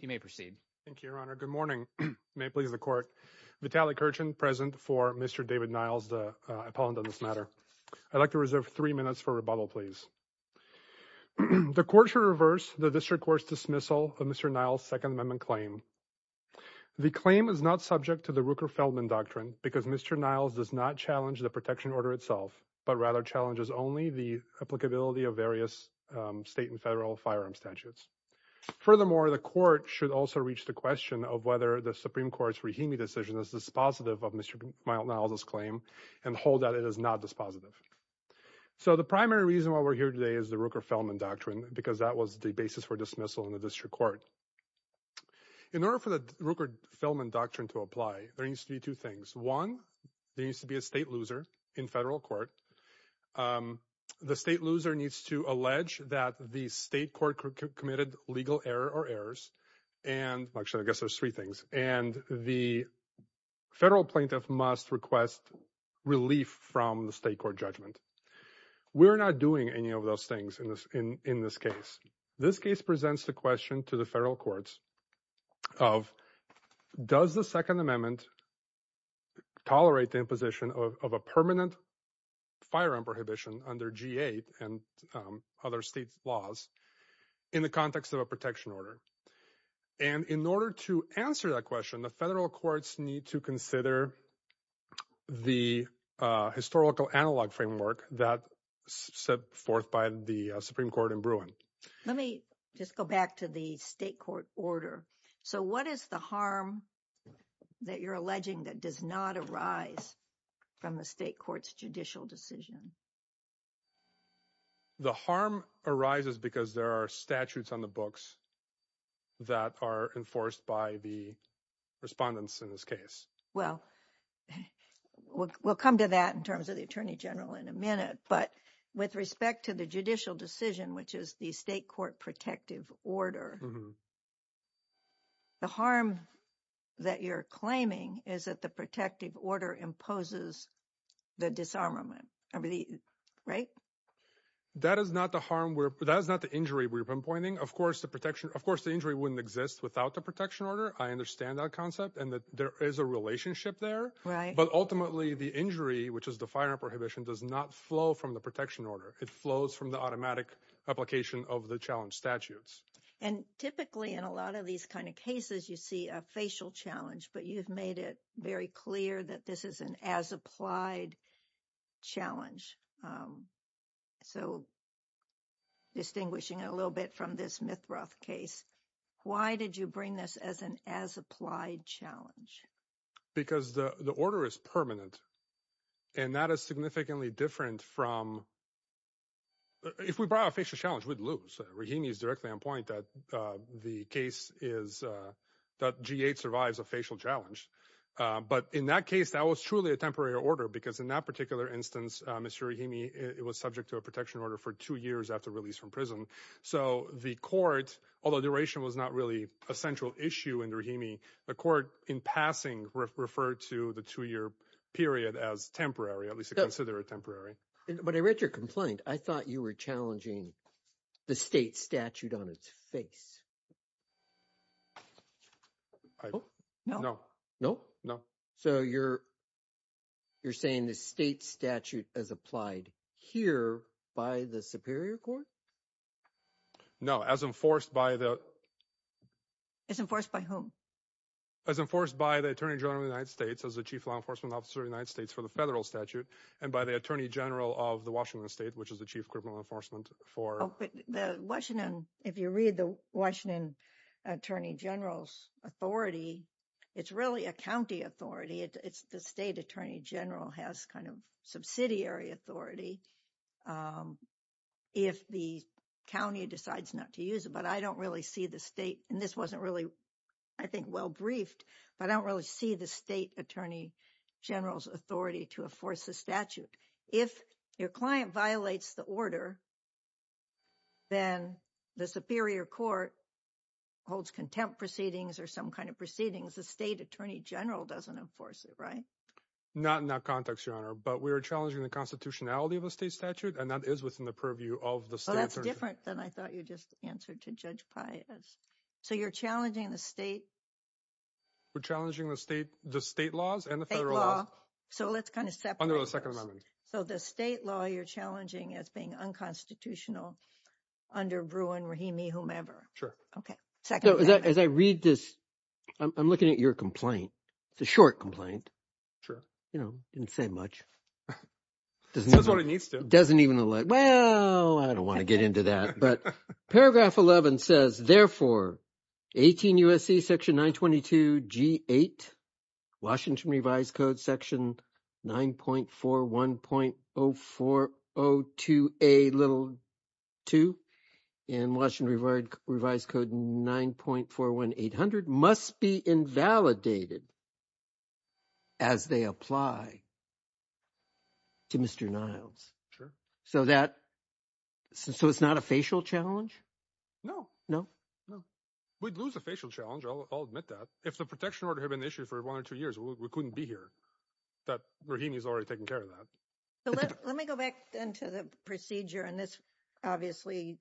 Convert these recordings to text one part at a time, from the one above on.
You may proceed. Thank you, Your Honor. Good morning. May it please the Court. Vitaly Kirchhen, present for Mr. David Niles, the appellant on this matter. I'd like to reserve three minutes for rebuttal, please. The Court shall reverse the District Court's dismissal of Mr. Niles' Second Amendment claim. The claim is not subject to the Ruker-Feldman Doctrine because Mr. Niles does not challenge the protection order itself, but rather challenges only the applicability of state and federal firearm statutes. Furthermore, the Court should also reach the question of whether the Supreme Court's Rahimi decision is dispositive of Mr. Niles' claim and hold that it is not dispositive. So the primary reason why we're here today is the Ruker-Feldman Doctrine because that was the basis for dismissal in the District Court. In order for the Ruker-Feldman Doctrine to apply, there needs to be two things. One, there needs to be a state loser in federal court. The state loser needs to allege that the state court committed legal error or errors, and actually I guess there's three things, and the federal plaintiff must request relief from the state court judgment. We're not doing any of those things in this case. This case presents the question to the federal courts of does the Second Amendment tolerate the imposition of a permanent firearm prohibition under G-8 and other state laws in the context of a protection order? And in order to answer that question, the federal courts need to consider the historical analog framework that set forth by the Supreme Court in Bruin. Let me just go back to the state court order. So what is the harm that you're alleging that does not arise from the state court's judicial decision? The harm arises because there are statutes on the books that are enforced by the respondents in this case. Well, we'll come to that in terms of the Attorney General in a minute, but with respect to the judicial decision, which is the state court protective order, the harm that you're claiming is that the protective order imposes the disarmament, right? That is not the harm, that is not the injury we're pinpointing. Of course the protection, of course the injury wouldn't exist without the protection order. I understand that concept and that there is a relationship there, but ultimately the injury, which is the firearm prohibition, does not flow from the protection order. It flows from the automatic application of the statutes. And typically in a lot of these kind of cases you see a facial challenge, but you've made it very clear that this is an as-applied challenge. So distinguishing a little bit from this Mithroth case, why did you bring this as an as-applied challenge? Because the order is permanent and that is significantly different from, well, if we brought a facial challenge we'd lose. Rahimi is directly on point that the case is, that G8 survives a facial challenge. But in that case that was truly a temporary order because in that particular instance, Mr. Rahimi, it was subject to a protection order for two years after release from prison. So the court, although duration was not really a central issue in Rahimi, the court in passing referred to the two-year period as temporary, at least to consider it temporary. But I read your complaint. I thought you were challenging the state statute on its face. No. No? No. So you're saying the state statute is applied here by the Superior Court? No, as enforced by the... As enforced by whom? As enforced by the Attorney General of the United States as the Chief Law Enforcement Officer of the United States for the federal statute and by the Attorney General of the Washington state, which is the Chief Criminal Enforcement for... Oh, but the Washington... If you read the Washington Attorney General's authority, it's really a county authority. It's the State Attorney General has kind of subsidiary authority if the county decides not to use it. But I don't really see the state, and this wasn't really, I think, well-briefed, but I don't really see the State Attorney General's authority to enforce the statute. If your client violates the order, then the Superior Court holds contempt proceedings or some kind of proceedings, the State Attorney General doesn't enforce it, right? Not in that context, Your Honor, but we are challenging the constitutionality of the state statute, and that is within the purview of the state... Oh, that's different than I thought you just answered to Judge Paez. So you're challenging the state? We're challenging the state laws and the federal laws. So let's kind of separate those. Under the Second Amendment. So the state law you're challenging as being unconstitutional under Bruin, Rahimi, whomever. Sure. Okay. Second Amendment. As I read this, I'm looking at your complaint. It's a short complaint. Sure. Didn't say much. Says what it needs to. Doesn't even look... Well, I don't want to get into that, but paragraph 11 says, therefore, 18 U.S.C. section 922 G8, Washington Revised Code section 9.41.0402a little 2, and Washington Revised Code 9.41.800 must be invalidated as they apply to Mr. Niles. Sure. So it's not a facial challenge? No. No? No. We'd lose a facial challenge. I'll admit that. If the protection order had been issued for one or two years, we couldn't be here. Rahimi's already taken care of that. Let me go back then to the procedure, and this obviously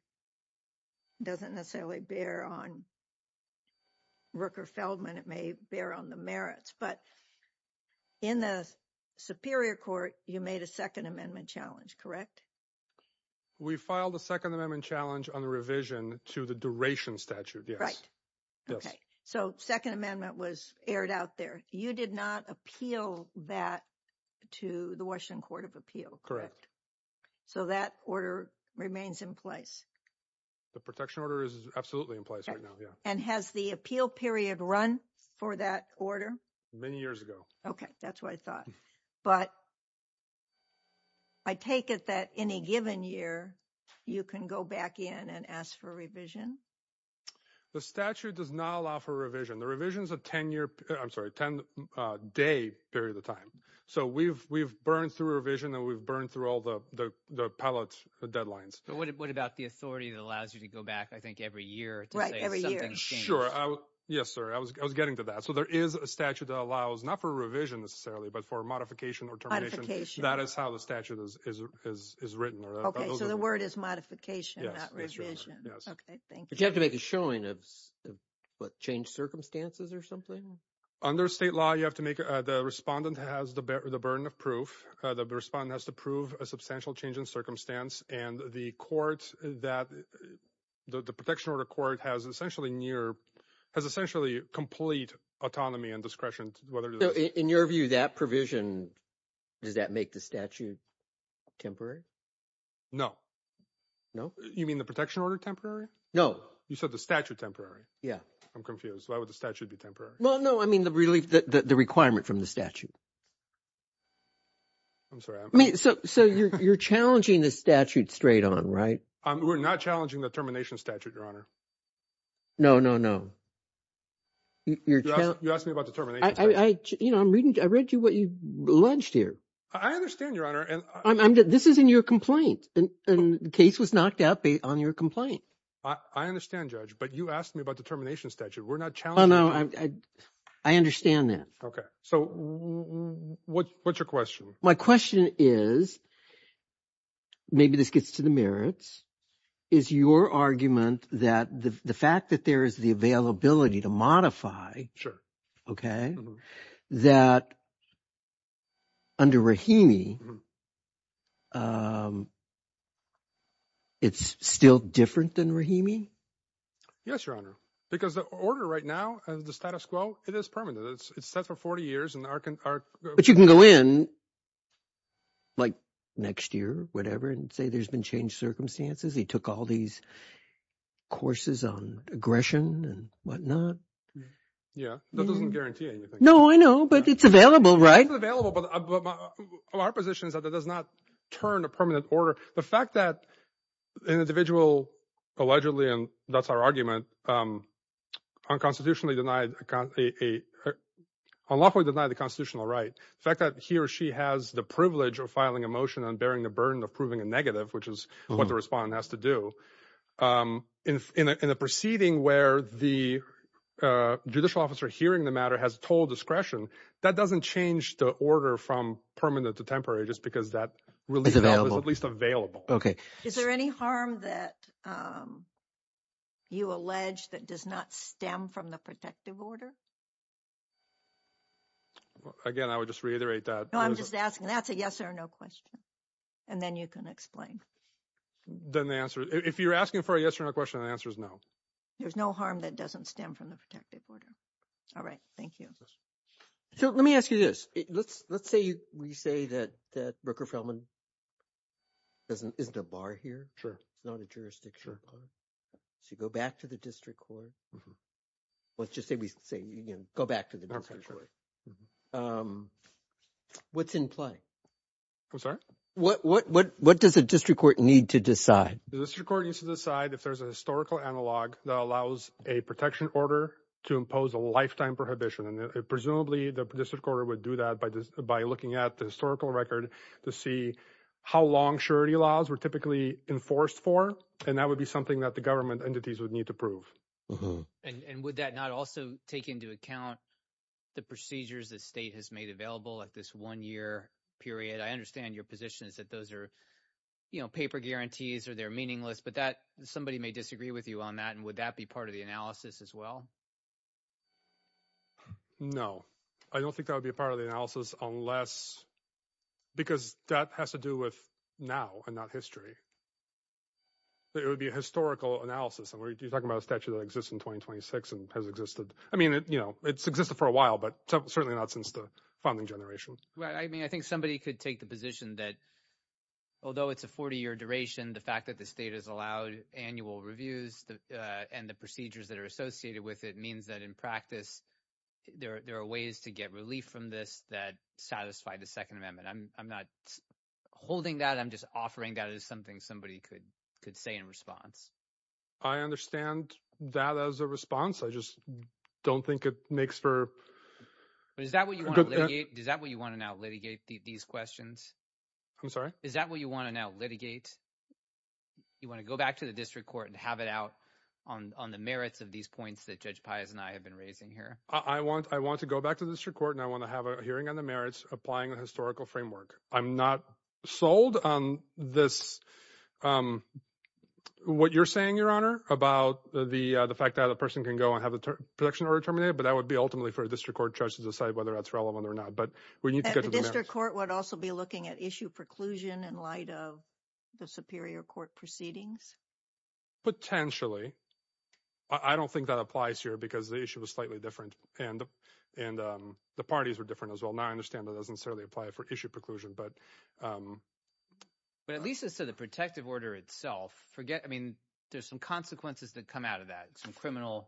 doesn't necessarily bear on Rooker-Feldman. It may bear on the merits, but in the Superior Court, you made a Second Amendment challenge, correct? We filed a Second Amendment challenge on the revision to the duration statute, yes. Right. Okay. So Second Amendment was aired out there. You did not appeal that to the Court of Appeal, correct? Correct. So that order remains in place? The protection order is absolutely in place right now, yeah. And has the appeal period run for that order? Many years ago. Okay. That's what I thought. But I take it that in a given year, you can go back in and ask for revision? The statute does not allow for revision. The revision's a 10-year, I'm sorry, a 10-day period of time. So we've burned through a revision, and we've burned through all the pellet deadlines. But what about the authority that allows you to go back, I think, every year to say something's changed? Right, every year. Sure. Yes, sir. I was getting to that. So there is a statute that allows, not for revision necessarily, but for modification or termination. Modification. That is how the statute is written. Okay. So the word is modification, not revision. Yes. Okay. Thank you. But you have to make a showing of, what, changed circumstances or something? Under state law, you have to make the respondent has the burden of proof. The respondent has to prove a substantial change in circumstance. And the protection order court has essentially complete autonomy and discretion. In your view, that provision, does that make the statute temporary? No. No? You mean the protection order temporary? No. You said the statute temporary? Yeah. I'm confused. Why would the statute be temporary? Well, no, I mean the relief, the requirement from the statute. I'm sorry. I mean, so you're challenging the statute straight on, right? We're not challenging the termination statute, Your Honor. No, no, no. You asked me about the termination statute. I'm reading, I read to you what you alleged here. I understand, Your Honor. This is in your complaint. And the case was knocked out on your complaint. I understand, Judge. But you asked me about the termination statute. Well, no, I understand that. Okay. So what's your question? My question is, maybe this gets to the merits, is your argument that the fact that there is the availability to modify. Sure. Okay. That under Rahimi, it's still different than Rahimi? Yes, Your Honor, because the order right now and the status quo, it is permanent. It's set for 40 years. But you can go in like next year, whatever, and say there's been changed circumstances. He took all these courses on aggression and whatnot. Yeah, that doesn't guarantee anything. No, I know, but it's available, right? It's available, but our position is that it does not turn a permanent order. The fact that an individual allegedly, and that's our argument, unconstitutionally denied, unlawfully denied the constitutional right, the fact that he or she has the privilege of filing a motion and bearing the burden of proving a negative, which is what the respondent has to do in a proceeding where the judicial officer hearing the matter has total discretion, that doesn't change the order from permanent to temporary just because that was at least available. Okay. Is there any harm that you allege that does not stem from the protective order? Again, I would just reiterate that. No, I'm just asking. That's a yes or no question. And then you can explain. Then the answer, if you're asking for a yes or no question, the answer is no. There's no harm that doesn't stem from the protective order. All right. Thank you. So let me ask you this. Let's say we say that Rooker-Felman isn't a bar here. Sure. It's not a jurisdiction. So you go back to the district court. Let's just say we say you can go back to the district court. What's in play? I'm sorry? What does the district court need to decide? The district court needs to decide if there's a historical analog that allows a protection order to impose a lifetime prohibition. Presumably, the district court would do that by looking at the historical record to see how long surety laws were typically enforced for, and that would be something that the government entities would need to prove. And would that not also take into account the procedures the state has made available at this one-year period? I understand your position is that those are paper guarantees or they're meaningless, but somebody may disagree with you on that, and would that part of the analysis as well? No. I don't think that would be part of the analysis unless — because that has to do with now and not history. It would be a historical analysis. You're talking about a statute that exists in 2026 and has existed — I mean, you know, it's existed for a while, but certainly not since the founding generation. I mean, I think somebody could take the position that although it's a 40-year duration, the fact that the state has allowed annual reviews and the procedures that are associated with it means that, in practice, there are ways to get relief from this that satisfy the Second Amendment. I'm not holding that. I'm just offering that as something somebody could say in response. I understand that as a response. I just don't think it makes for — Is that what you want to now litigate, these questions? I'm sorry? Is that what you want to now litigate? You want to go back to the district court and have it out on the merits of these points that Judge Pius and I have been raising here? I want to go back to the district court and I want to have a hearing on the merits applying the historical framework. I'm not sold on this — what you're saying, Your Honor, about the fact that a person can go and have the protection order terminated, but that would be ultimately for a district court judge to decide whether that's relevant or not. But we need to get to the merits. Would also be looking at issue preclusion in light of the superior court proceedings? Potentially. I don't think that applies here because the issue was slightly different, and the parties were different as well. Now I understand that doesn't necessarily apply for issue preclusion. But at least as to the protective order itself, forget — I mean, there's some consequences that come out of that, some criminal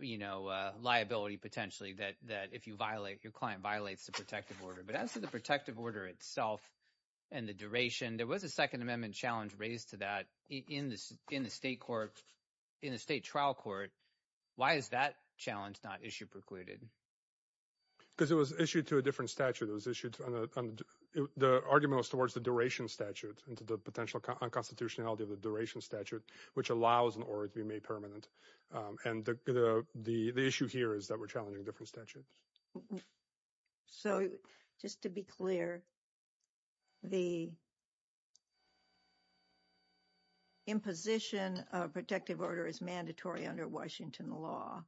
liability, potentially, that if you violate — your client violates the protective order. But as to the protective order itself and the duration, there was a Second Amendment challenge raised to that in the state trial court. Why is that challenge not issue precluded? Because it was issued to a different statute. It was issued — the argument was towards the duration statute and to the potential unconstitutionality of the duration statute, which allows an order to be made permanent. And the issue here is that we're challenging different statutes. So just to be clear, the imposition of protective order is mandatory under Washington law,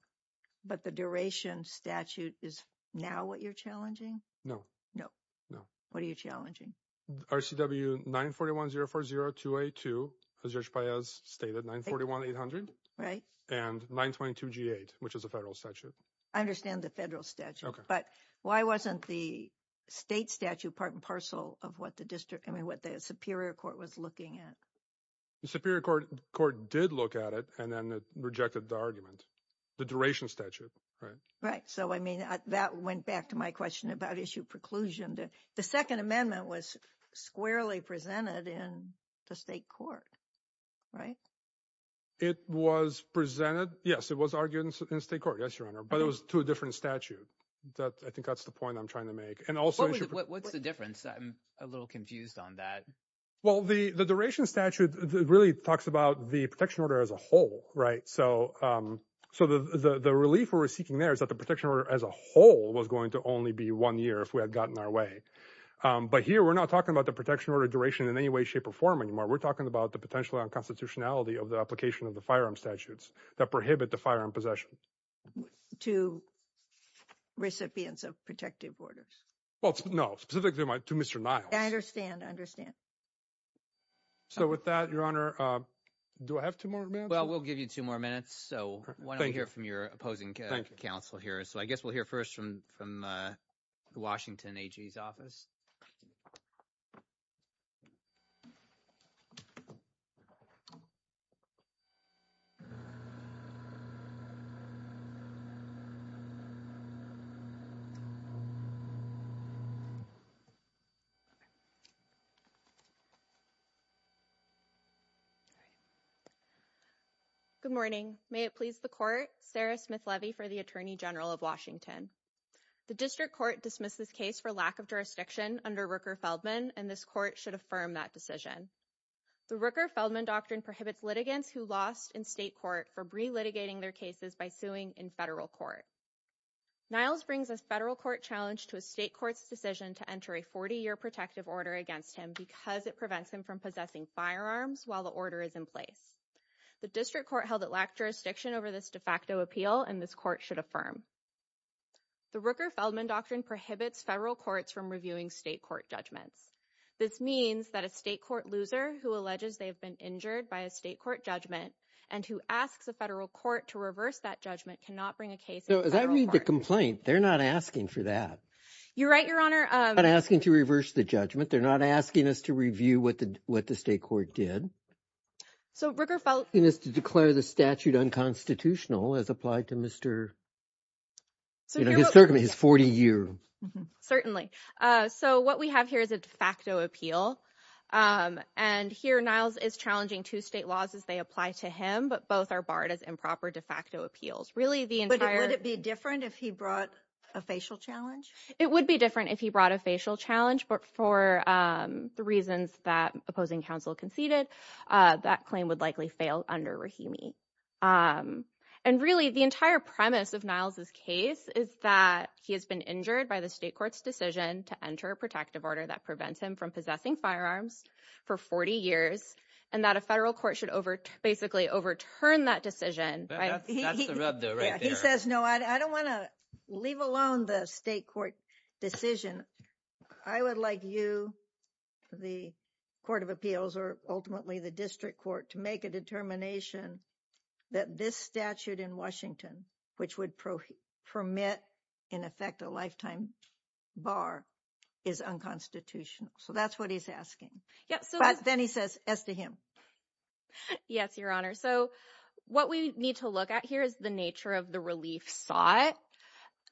but the duration statute is now what you're challenging? No. No. What are you challenging? RCW 941-040-282, as Judge Paez stated, 941-800. Right. And 942-G8, which is a federal statute. I understand the federal statute. But why wasn't the state statute part and parcel of what the district — I mean, what the Superior Court was looking at? The Superior Court did look at it and then it rejected the argument. The duration statute, right? Right. So, I mean, that went back to my question about issue preclusion. The Second Amendment was squarely presented in the state court, right? It was presented. Yes, it was argued in state court. Yes, Your Honor. But it was to a different statute. I think that's the point I'm trying to make. And also — What's the difference? I'm a little confused on that. Well, the duration statute really talks about the protection order as a whole, right? So the relief we were seeking there is that the protection order as a whole was going to only be one year if we had gotten our way. But here we're not talking about the protection order duration in any way, shape or form anymore. We're talking about the potential unconstitutionality of the application of the firearm statutes that prohibit the firearm possession. To recipients of protective orders. Well, no. Specifically to Mr. Niles. I understand. I understand. So with that, Your Honor, do I have two more minutes? Well, we'll give you two more minutes. So why don't we hear from your opposing counsel here. So I guess we'll hear first from the Washington AG's office. All right. Good morning. May it please the court. Sarah Smith Levy for the Attorney General of Washington. The district court dismissed this case for lack of jurisdiction under Rooker-Feldman, and this court should affirm that decision. The Rooker-Feldman doctrine prohibits litigants who lost in state court for re-litigating their cases by suing in federal court. Niles brings a federal court challenge to a state court's decision to enter a 40-year protective order against him because it prevents him from possessing firearms while the order is in place. The district court held it lacked jurisdiction over this de facto appeal, and this court should affirm. The Rooker-Feldman doctrine prohibits federal courts from reviewing state court judgments. This means that a state court loser who alleges they've been injured by a state court judgment and who asks a federal court to reverse that judgment cannot bring a case. So as I read the complaint, they're not asking for that. You're right, Your Honor. They're not asking to reverse the judgment. They're not asking us to review what the state court did. So Rooker-Feldman is to declare the statute unconstitutional as applied to Mr. His 40-year. Certainly. So what we have here is a de facto appeal. And here, Niles is challenging two state laws as they apply to him, but both are barred as improper de facto appeals. Really, the entire- But would it be different if he brought a facial challenge? It would be different if he brought a facial challenge, but for the reasons that opposing counsel conceded, that claim would likely fail under Rahimi. And really, the entire premise of Niles's case is that he has been injured by the state court's decision to enter a protective order that prevents him from possessing firearms for 40 years, and that a federal court should basically overturn that decision. That's the rub, though, right there. He says, no, I don't want to leave alone the state court decision. I would like you, the Court of Appeals, or ultimately the district court, to make a bar is unconstitutional. So that's what he's asking. But then he says, as to him. Yes, Your Honor. So what we need to look at here is the nature of the relief sought.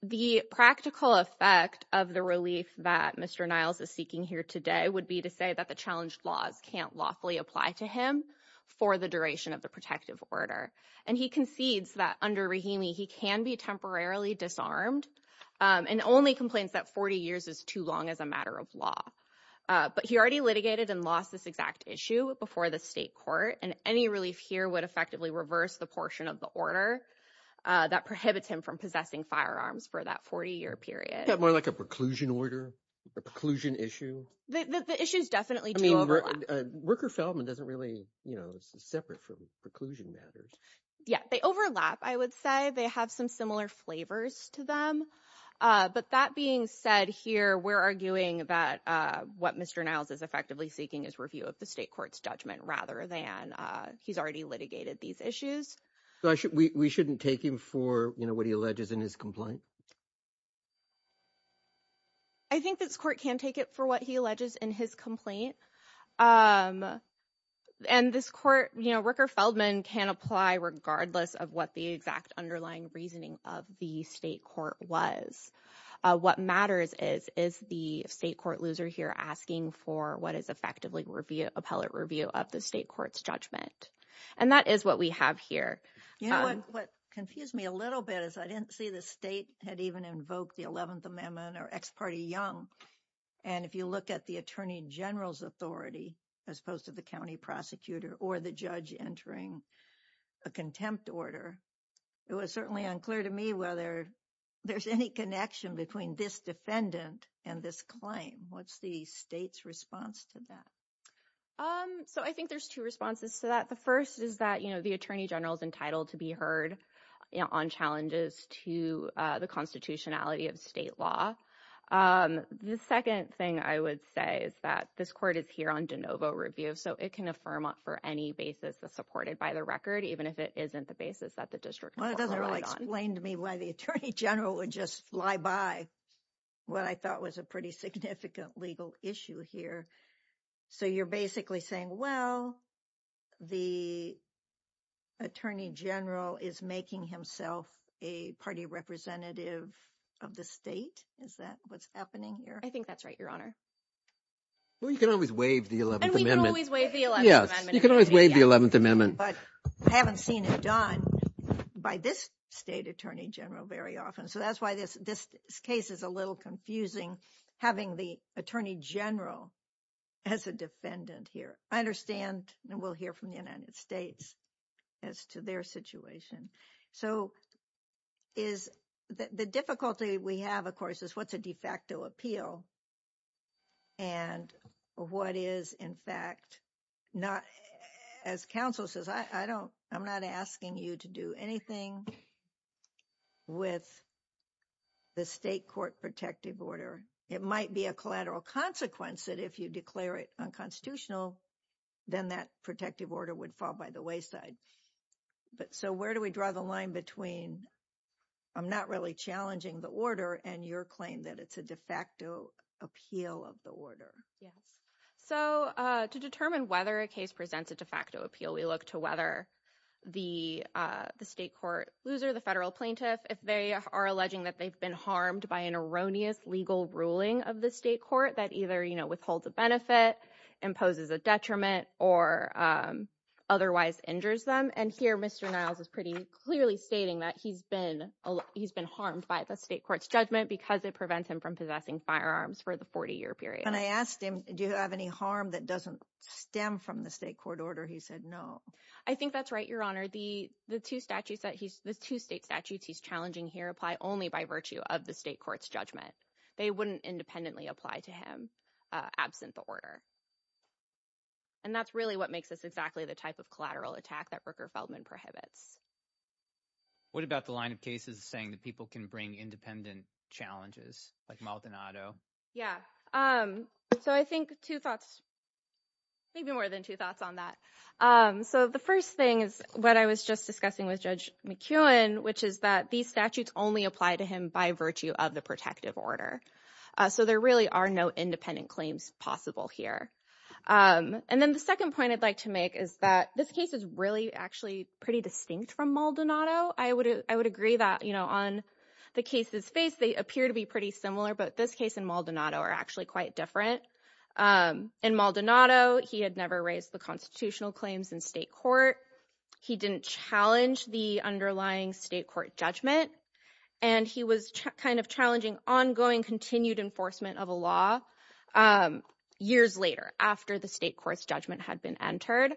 The practical effect of the relief that Mr. Niles is seeking here today would be to say that the challenged laws can't lawfully apply to him for the duration of the protective order. And he concedes that under Rahimi, he can be temporarily disarmed, and only complains that 40 years is too long as a matter of law. But he already litigated and lost this exact issue before the state court. And any relief here would effectively reverse the portion of the order that prohibits him from possessing firearms for that 40-year period. Is that more like a preclusion order, a preclusion issue? The issues definitely do overlap. Rooker-Feldman doesn't really, you know, this is separate from preclusion matters. Yeah, they overlap, I would say. They have some similar flavors to them. But that being said here, we're arguing that what Mr. Niles is effectively seeking is review of the state court's judgment rather than he's already litigated these issues. We shouldn't take him for, you know, what he alleges in his complaint? I think this court can take it for what he alleges in his complaint. And this court, you know, Rooker-Feldman can apply regardless of what the exact underlying reasoning of the state court was. What matters is, is the state court loser here asking for what is effectively review, appellate review of the state court's judgment? And that is what we have here. You know what confused me a little bit is I didn't see the state had even invoked the 11th Amendment or ex parte Young. And if you look at the attorney general's authority, as opposed to the county prosecutor or the judge entering a contempt order, it was certainly unclear to me whether there's any connection between this defendant and this claim. What's the state's response to that? So I think there's two responses to that. The first is that, you know, the attorney general's entitled to be heard, you know, on challenges to the constitutionality of state law. Um, the second thing I would say is that this court is here on de novo review, so it can affirm for any basis that's supported by the record, even if it isn't the basis that the district doesn't really explain to me why the attorney general would just fly by what I thought was a pretty significant legal issue here. So you're basically saying, well, the attorney general is making himself a party representative of the state? Is that what's happening here? I think that's right, Your Honor. Well, you can always waive the 11th Amendment. And we can always waive the 11th Amendment. Yes, you can always waive the 11th Amendment. But I haven't seen it done by this state attorney general very often. So that's why this case is a little confusing, having the attorney general as a defendant here. I understand, and we'll hear from the United States as to their situation. So is the difficulty we have, of course, is what's a de facto appeal? And what is, in fact, not, as counsel says, I don't, I'm not asking you to do anything with the state court protective order. It might be a collateral consequence that if you declare it unconstitutional, then that protective order would fall by the wayside. But so where do we draw the line between I'm not really challenging the order and your claim that it's a de facto appeal of the order? Yes. So to determine whether a case presents a de facto appeal, we look to whether the state court, loser, the federal plaintiff, if they are alleging that they've been harmed by an erroneous legal ruling of the state court that either withholds a benefit, imposes a detriment, or otherwise injures them. And here, Mr. Niles is pretty clearly stating that he's been, he's been harmed by the state court's judgment because it prevents him from possessing firearms for the 40-year period. And I asked him, do you have any harm that doesn't stem from the state court order? He said no. I think that's right, Your Honor. The two statutes that he's, the two state statutes he's challenging here apply only by virtue of the state court's judgment. They wouldn't independently apply to him absent the order. And that's really what makes this exactly the type of collateral attack that Rooker Feldman prohibits. What about the line of cases saying that people can bring independent challenges like Maldonado? Yeah. So I think two thoughts, maybe more than two thoughts on that. So the first thing is what I was just discussing with Judge McKeown, which is that these statutes only apply to him by virtue of the protective order. So there really are no independent claims possible here. And then the second point I'd like to make is that this case is really actually pretty distinct from Maldonado. I would agree that on the cases faced, they appear to be pretty similar. But this case and Maldonado are actually quite different. In Maldonado, he had never raised the constitutional claims in state court. He didn't challenge the underlying state court judgment. And he was kind of challenging ongoing continued enforcement of a law years later after the state court's judgment had been entered.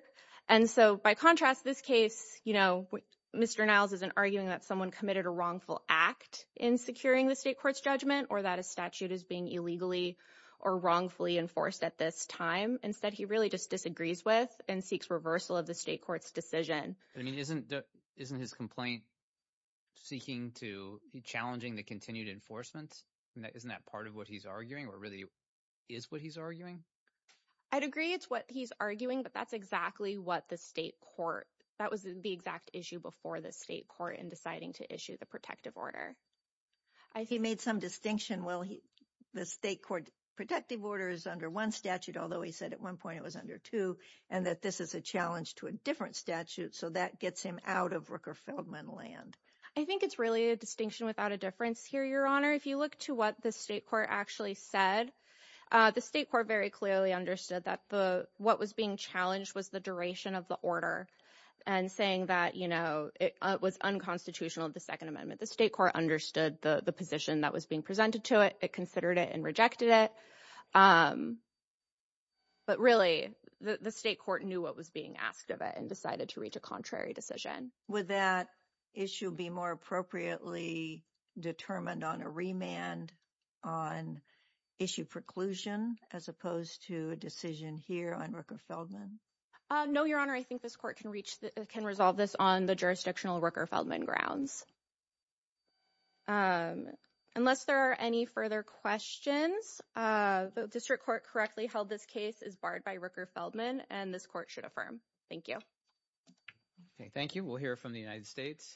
And so by contrast, this case, Mr. Niles isn't arguing that someone committed a wrongful act in securing the state court's judgment or that a statute is being illegally or wrongfully enforced at this time. Instead, he really just disagrees with and seeks reversal of the state court's decision. I mean, isn't his complaint seeking to be challenging the continued enforcement? Isn't that part of what he's arguing or really is what he's arguing? I'd agree it's what he's arguing, but that's exactly what the state court, that was the exact issue before the state court in deciding to issue the protective order. He made some distinction. Well, the state court protective order is under one statute, although he said at one point it was under two, and that this is a challenge to a different statute. So that gets him out of Rooker Feldman land. I think it's really a distinction without a difference here, Your Honor. If you look to what the state court actually said, the state court very clearly understood that what was being challenged was the duration of the order and saying that it was unconstitutional of the second amendment. The state court understood the position that was being presented to it. It considered it and rejected it. But really, the state court knew what was being asked of it and decided to reach a contrary decision. Would that issue be more appropriately determined on a remand on issue preclusion as opposed to a decision here on Rooker Feldman? No, Your Honor. I think this court can reach, can resolve this on the jurisdictional Rooker Feldman grounds. Unless there are any further questions, the district court correctly held this case is barred by Rooker Feldman, and this court should affirm. Thank you. Okay, thank you. We'll hear from the United States.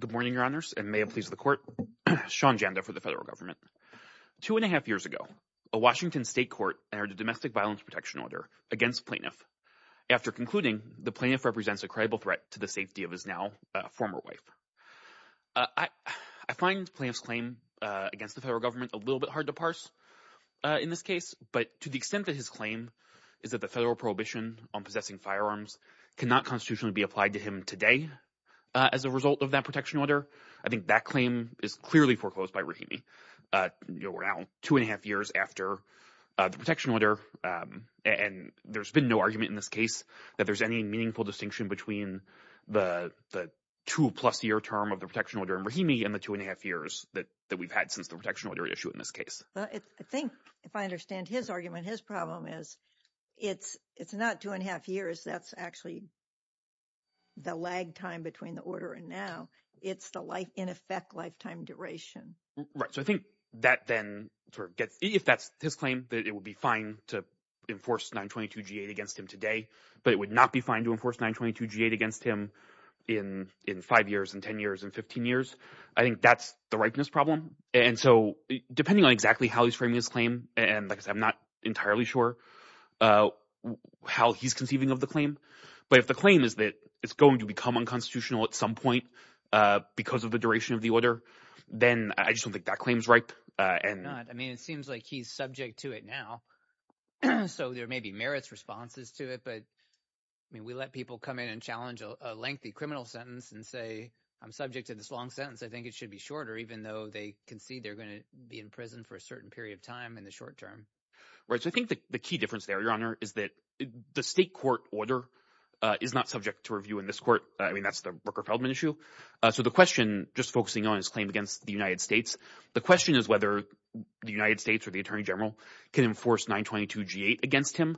Good morning, Your Honors, and may it please the court. Sean Janda for the federal government. Two and a half years ago, a Washington state court entered a domestic violence protection order against plaintiff. After concluding, the plaintiff represents a credible threat to the safety of his now former wife. I find plaintiff's claim against the federal government a little bit hard to parse in this case, but to the extent that his claim is that the federal prohibition on possessing firearms cannot constitutionally be applied to him today as a result of that protection order, I think that claim is clearly foreclosed by Rahimi. We're now two and a half years after the protection order, and there's been no argument in this case that there's any meaningful distinction between the two plus year term of the protection order in Rahimi and the two and a half years that we've had since the protection order issue in this case. Well, I think if I understand his argument, his problem is it's not two and a half years. That's actually the lag time between the order and now. It's the life, in effect, lifetime duration. So I think that then gets if that's his claim that it would be fine to enforce 922 G8 against him today, but it would not be fine to enforce 922 G8 against him in five years and 10 years and 15 years. I think that's the rightness problem. And so depending on exactly how he's framing his claim, and I'm not entirely sure how he's conceiving of the claim. But if the claim is that it's going to become unconstitutional at some point because of the duration of the order, then I just don't think that claim is ripe. And I mean, it seems like he's subject to it now. So there may be merits responses to it. But I mean, we let people come in and challenge a lengthy criminal sentence and say, I'm subject to this long sentence. I think it should be shorter, even though they concede they're going to be in prison for a certain period of time in the short term. Right. So I think the key difference there, Your Honor, is that the state court order is not subject to review in this court. I mean, that's the Rooker-Feldman issue. So the question, just focusing on his claim against the United States, the question is whether the United States or the attorney general can enforce 922G8 against him.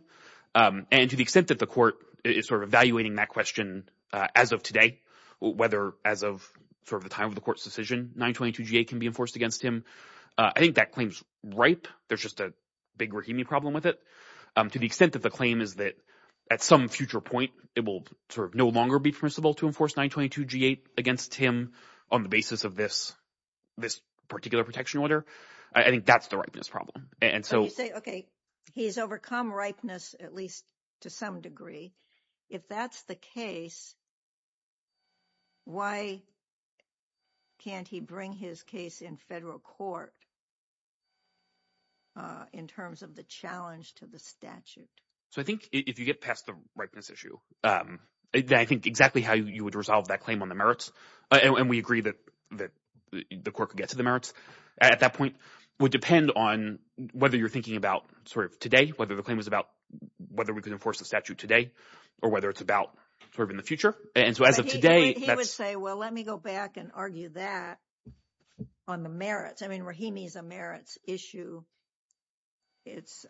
And to the extent that the court is sort of evaluating that question as of today, whether as of sort of the time of the court's decision, 922G8 can be enforced against him. I think that claim is ripe. There's just a big Rahimi problem with it. To the extent that the claim is that at some future point, it will sort of no longer be permissible to enforce 922G8 against him on the basis of this particular protection order, I think that's the ripeness problem. So you say, OK, he's overcome ripeness, at least to some degree. If that's the case, why can't he bring his case in federal court in terms of the challenge to the statute? So I think if you get past the ripeness issue, then I think exactly how you would resolve that claim on the merits, and we agree that the court could get to the merits at that point, would depend on whether you're thinking about sort of today, whether the claim was about whether we could enforce the statute today or whether it's about sort of in the And so as of today, he would say, well, let me go back and argue that on the merits. I mean, Rahimi's a merits issue. It's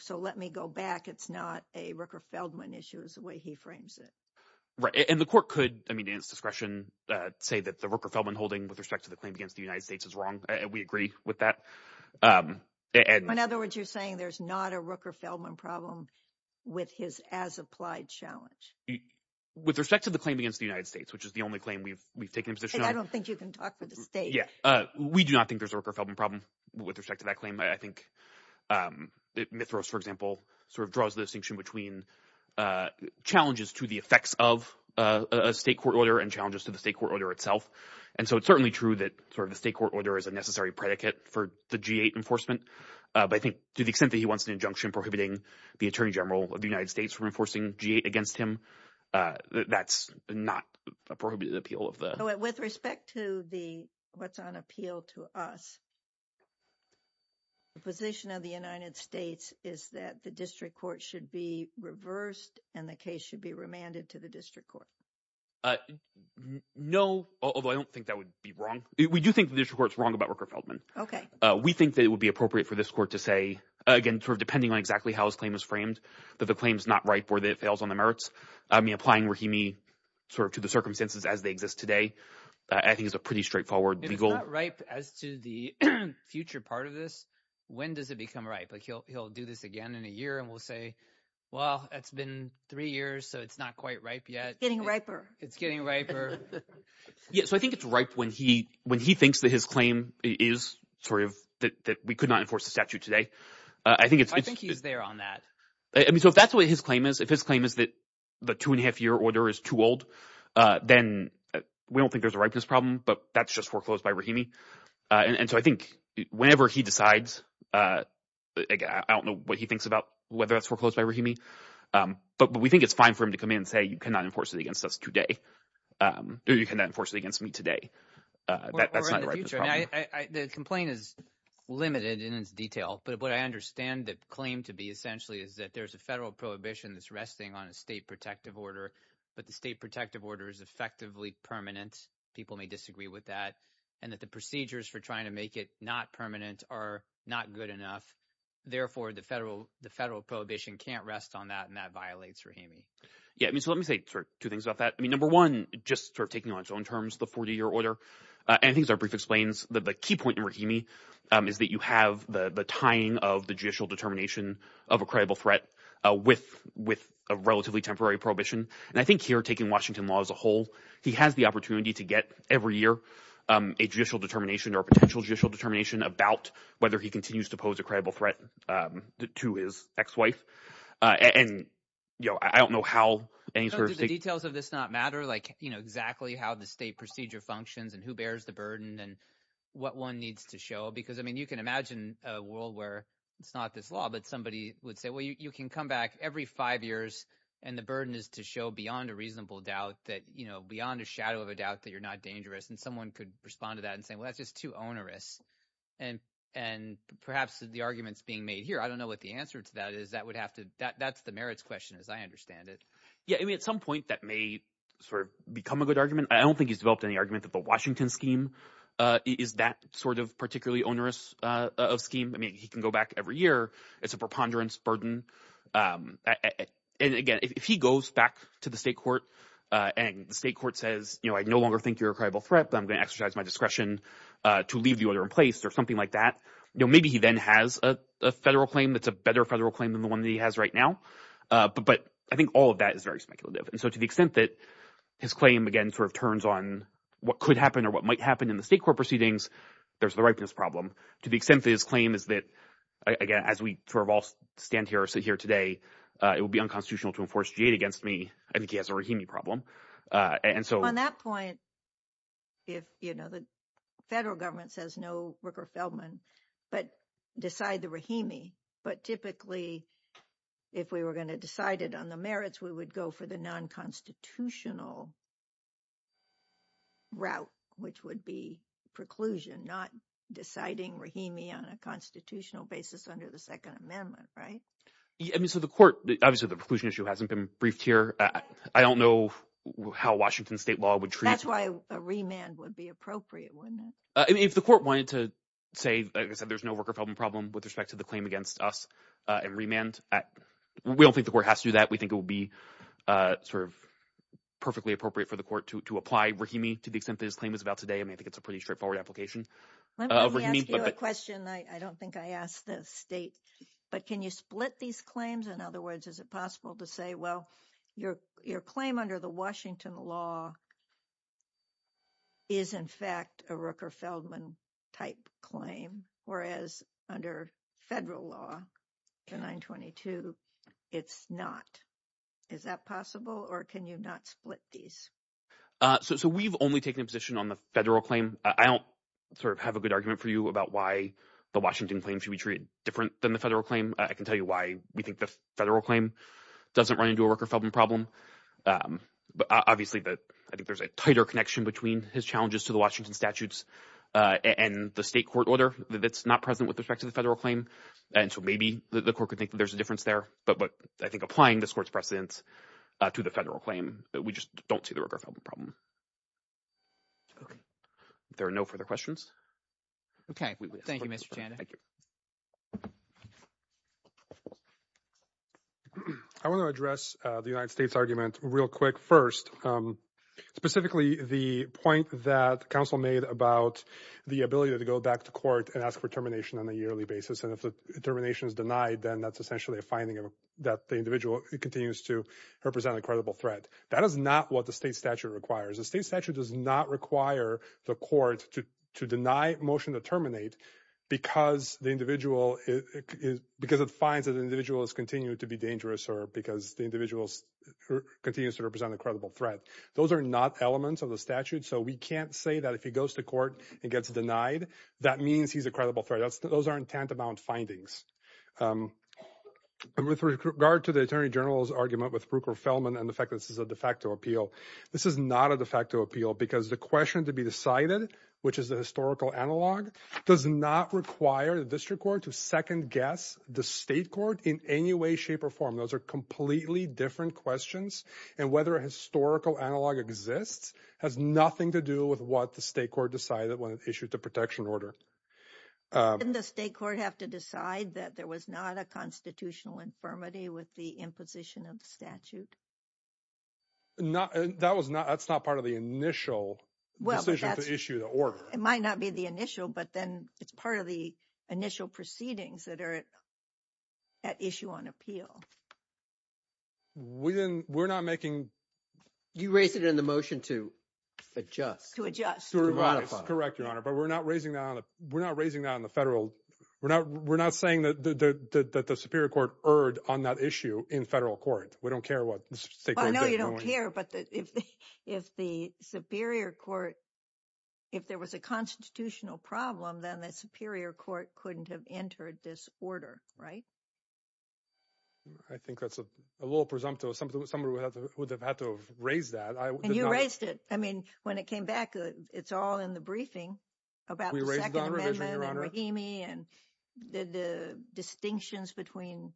so let me go back. It's not a Rooker Feldman issue is the way he frames it. And the court could, I mean, in its discretion, say that the Rooker Feldman holding with respect to the claim against the United States is wrong. And we agree with that. And in other words, you're saying there's not a Rooker Feldman problem with his as applied challenge with respect to the claim against the United States, which is the only claim we've we've taken a position. I don't think you can talk to the state. Yeah, we do not think there's a Rooker Feldman problem with respect to that claim. I think Mithras, for example, sort of draws the distinction between challenges to the effects of a state court order and challenges to the state court order itself. And so it's certainly true that sort of the state court order is a necessary predicate for the G8 enforcement. But I think to the extent that he wants an injunction prohibiting the attorney general of the United States from enforcing G8 against him, that's not a prohibited appeal of the With respect to the what's on appeal to us. The position of the United States is that the district court should be reversed and the case should be remanded to the district court. No, although I don't think that would be wrong. We do think the district court's wrong about Rooker Feldman. OK, we think that it would be appropriate for this court to say, again, sort of depending on exactly how his claim is framed, that the claim is not right for that fails on the merits. I mean, applying where he me sort of to the circumstances as they exist today, I think is a pretty straightforward legal right as to the future part of this. When does it become right? But he'll he'll do this again in a year and we'll say, well, it's been three years, so it's not quite right yet. Getting riper. It's getting riper. Yeah, so I think it's ripe when he when he thinks that his claim is sort of that we could not enforce the statute today. I think it's I think he's there on that. I mean, so if that's what his claim is, if his claim is that the two and a half year order is too old, then we don't think there's a right to this problem. But that's just foreclosed by Rahimi. And so I think whenever he decides, I don't know what he thinks about whether it's foreclosed by Rahimi, but we think it's fine for him to come in and say, you cannot enforce it against us today. You cannot enforce it against me today. The complaint is limited in its detail. But what I understand that claim to be essentially is that there's a federal prohibition that's resting on a state protective order. But the state protective order is effectively permanent. People may disagree with that and that the procedures for trying to make it not permanent are not good enough. Therefore, the federal the federal prohibition can't rest on that. And that violates Rahimi. Yeah, I mean, so let me say two things about that. I mean, number one, just sort of taking on its own terms, the 40 year order and things brief explains that the key point in Rahimi is that you have the tying of the judicial determination of a credible threat with with a relatively temporary prohibition. And I think here taking Washington law as a whole, he has the opportunity to get every year a judicial determination or potential judicial determination about whether he continues to pose a credible threat to his ex wife. And, you know, I don't know how any details of this not matter, like, you know, exactly how the state procedure functions and who bears the burden and what one needs to show. Because, I mean, you can imagine a world where it's not this law, but somebody would say, well, you can come back every five years and the burden is to show beyond a reasonable doubt that, you know, beyond a shadow of a doubt that you're not dangerous. And someone could respond to that and say, well, that's just too onerous. And and perhaps the arguments being made here, I don't know what the answer to that is. That would have to that that's the merits question, as I understand it. Yeah, I mean, at some point that may sort of become a good argument. I don't think he's developed any argument that the Washington scheme is that sort of particularly onerous of scheme. I mean, he can go back every year. It's a preponderance burden. And again, if he goes back to the state court and the state court says, you know, I no longer think you're a credible threat, but I'm going to exercise my discretion to leave the order in place or something like that. Maybe he then has a federal claim that's a better federal claim than the one that he has right now. But I think all of that is very speculative. And so to the extent that his claim, again, sort of turns on what could happen or what might happen in the state court proceedings, there's the ripeness problem to the extent that his claim is that, again, as we sort of all stand here, sit here today, it would be unconstitutional to enforce jade against me. I think he has a problem. And so on that point. If, you know, the federal government says no, Ricker Feldman, but decide the Rahimi. But typically, if we were going to decide it on the merits, we would go for the non constitutional route, which would be preclusion, not deciding Rahimi on a constitutional basis under the Second Amendment. So the court, obviously, the preclusion issue hasn't been briefed here. I don't know how Washington state law would treat. That's why a remand would be appropriate, wouldn't it? If the court wanted to say, like I said, there's no worker problem problem with respect to the claim against us and remand. We don't think the court has to do that. We think it would be sort of perfectly appropriate for the court to apply Rahimi to the extent that his claim is about today. I mean, I think it's a pretty straightforward application. Let me ask you a question. I don't think I asked the state, but can you split these claims? In other words, is it possible to say, well, your claim under the Washington law. Is, in fact, a Rooker Feldman type claim, whereas under federal law, the 922, it's not. Is that possible or can you not split these? So we've only taken a position on the federal claim. I don't sort of have a good argument for you about why the Washington claim should be treated different than the federal claim. I can tell you why we think the federal claim doesn't run into a Rooker Feldman problem. But obviously, I think there's a tighter connection between his challenges to the Washington statutes and the state court order that's not present with respect to the federal claim. And so maybe the court could think that there's a difference there. But I think applying this court's precedents to the federal claim, we just don't see the Rooker Feldman problem. There are no further questions. Okay. Thank you, Mr. Chanda. Thank you. I want to address the United States argument real quick. First, specifically, the point that counsel made about the ability to go back to court and ask for termination on a yearly basis. And if the termination is denied, then that's essentially a finding that the individual continues to represent a credible threat. That is not what the state statute requires. The state statute does not require the court to deny motion to terminate because it finds that the individual has continued to be dangerous or because the individual continues to represent a credible threat. Those are not elements of the statute. So we can't say that if he goes to court and gets denied, that means he's a credible threat. Those aren't tantamount findings. And with regard to the attorney general's argument with Rooker Feldman and the fact that this is a de facto appeal, this is not a de facto appeal because the question to be decided, which is the historical analog, does not require the district court to second-guess the state court in any way, shape, or form. Those are completely different questions. And whether a historical analog exists has nothing to do with what the state court decided when it issued the protection order. Didn't the state court have to decide that there was not a constitutional infirmity with the imposition of the statute? No, that's not part of the initial decision to issue the order. It might not be the initial, but then it's part of the initial proceedings that are at issue on appeal. We're not making... You raised it in the motion to adjust. To adjust, to modify. Correct, Your Honor, but we're not raising that on the federal... We're not saying that the Superior Court erred on that issue in federal court. We don't care what the state court... I know you don't care, but if the Superior Court... If there was a constitutional problem, then the Superior Court couldn't have entered this order, right? I think that's a little presumptive. Somebody would have had to have raised that. And you raised it. I mean, when it came back, it's all in the briefing about the Second Amendment and Rahimi and the distinctions between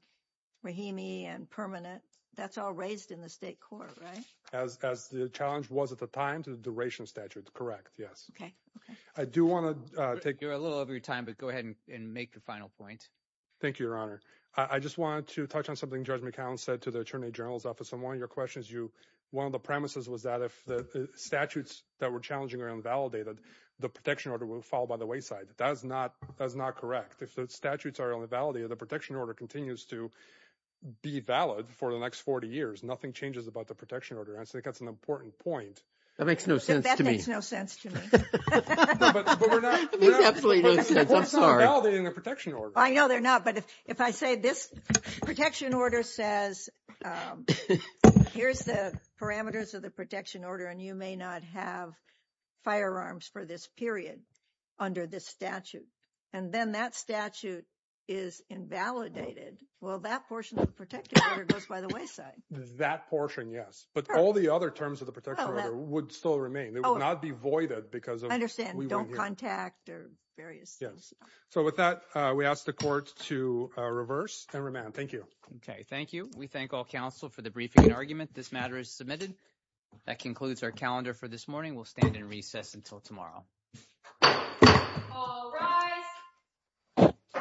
Rahimi and permanent. That's all raised in the state court, right? As the challenge was at the time to the duration statute. Correct, yes. Okay, okay. I do want to take... You're a little over your time, but go ahead and make your final point. Thank you, Your Honor. I just wanted to touch on something Judge McAllen said to the Attorney General's office. On one of your questions, one of the premises was that if the statutes that were challenging are invalidated, the protection order will fall by the wayside. That is not correct. If the statutes are only validated, the protection order continues to be valid for the next 40 years. Nothing changes about the protection order. And I think that's an important point. That makes no sense to me. That makes no sense to me. That makes absolutely no sense, I'm sorry. But we're not validating the protection order. I know they're not. But if I say this protection order says, here's the parameters of the protection order, and you may not have firearms for this period under this statute. And then that statute is invalidated. Well, that portion of the protection order goes by the wayside. That portion, yes. But all the other terms of the protection order would still remain. They would not be voided because of... Don't contact or various things. Yes. So with that, we ask the court to reverse and remand. Thank you. Okay, thank you. We thank all counsel for the briefing and argument. This matter is submitted. That concludes our calendar for this morning. We'll stand in recess until tomorrow. All rise.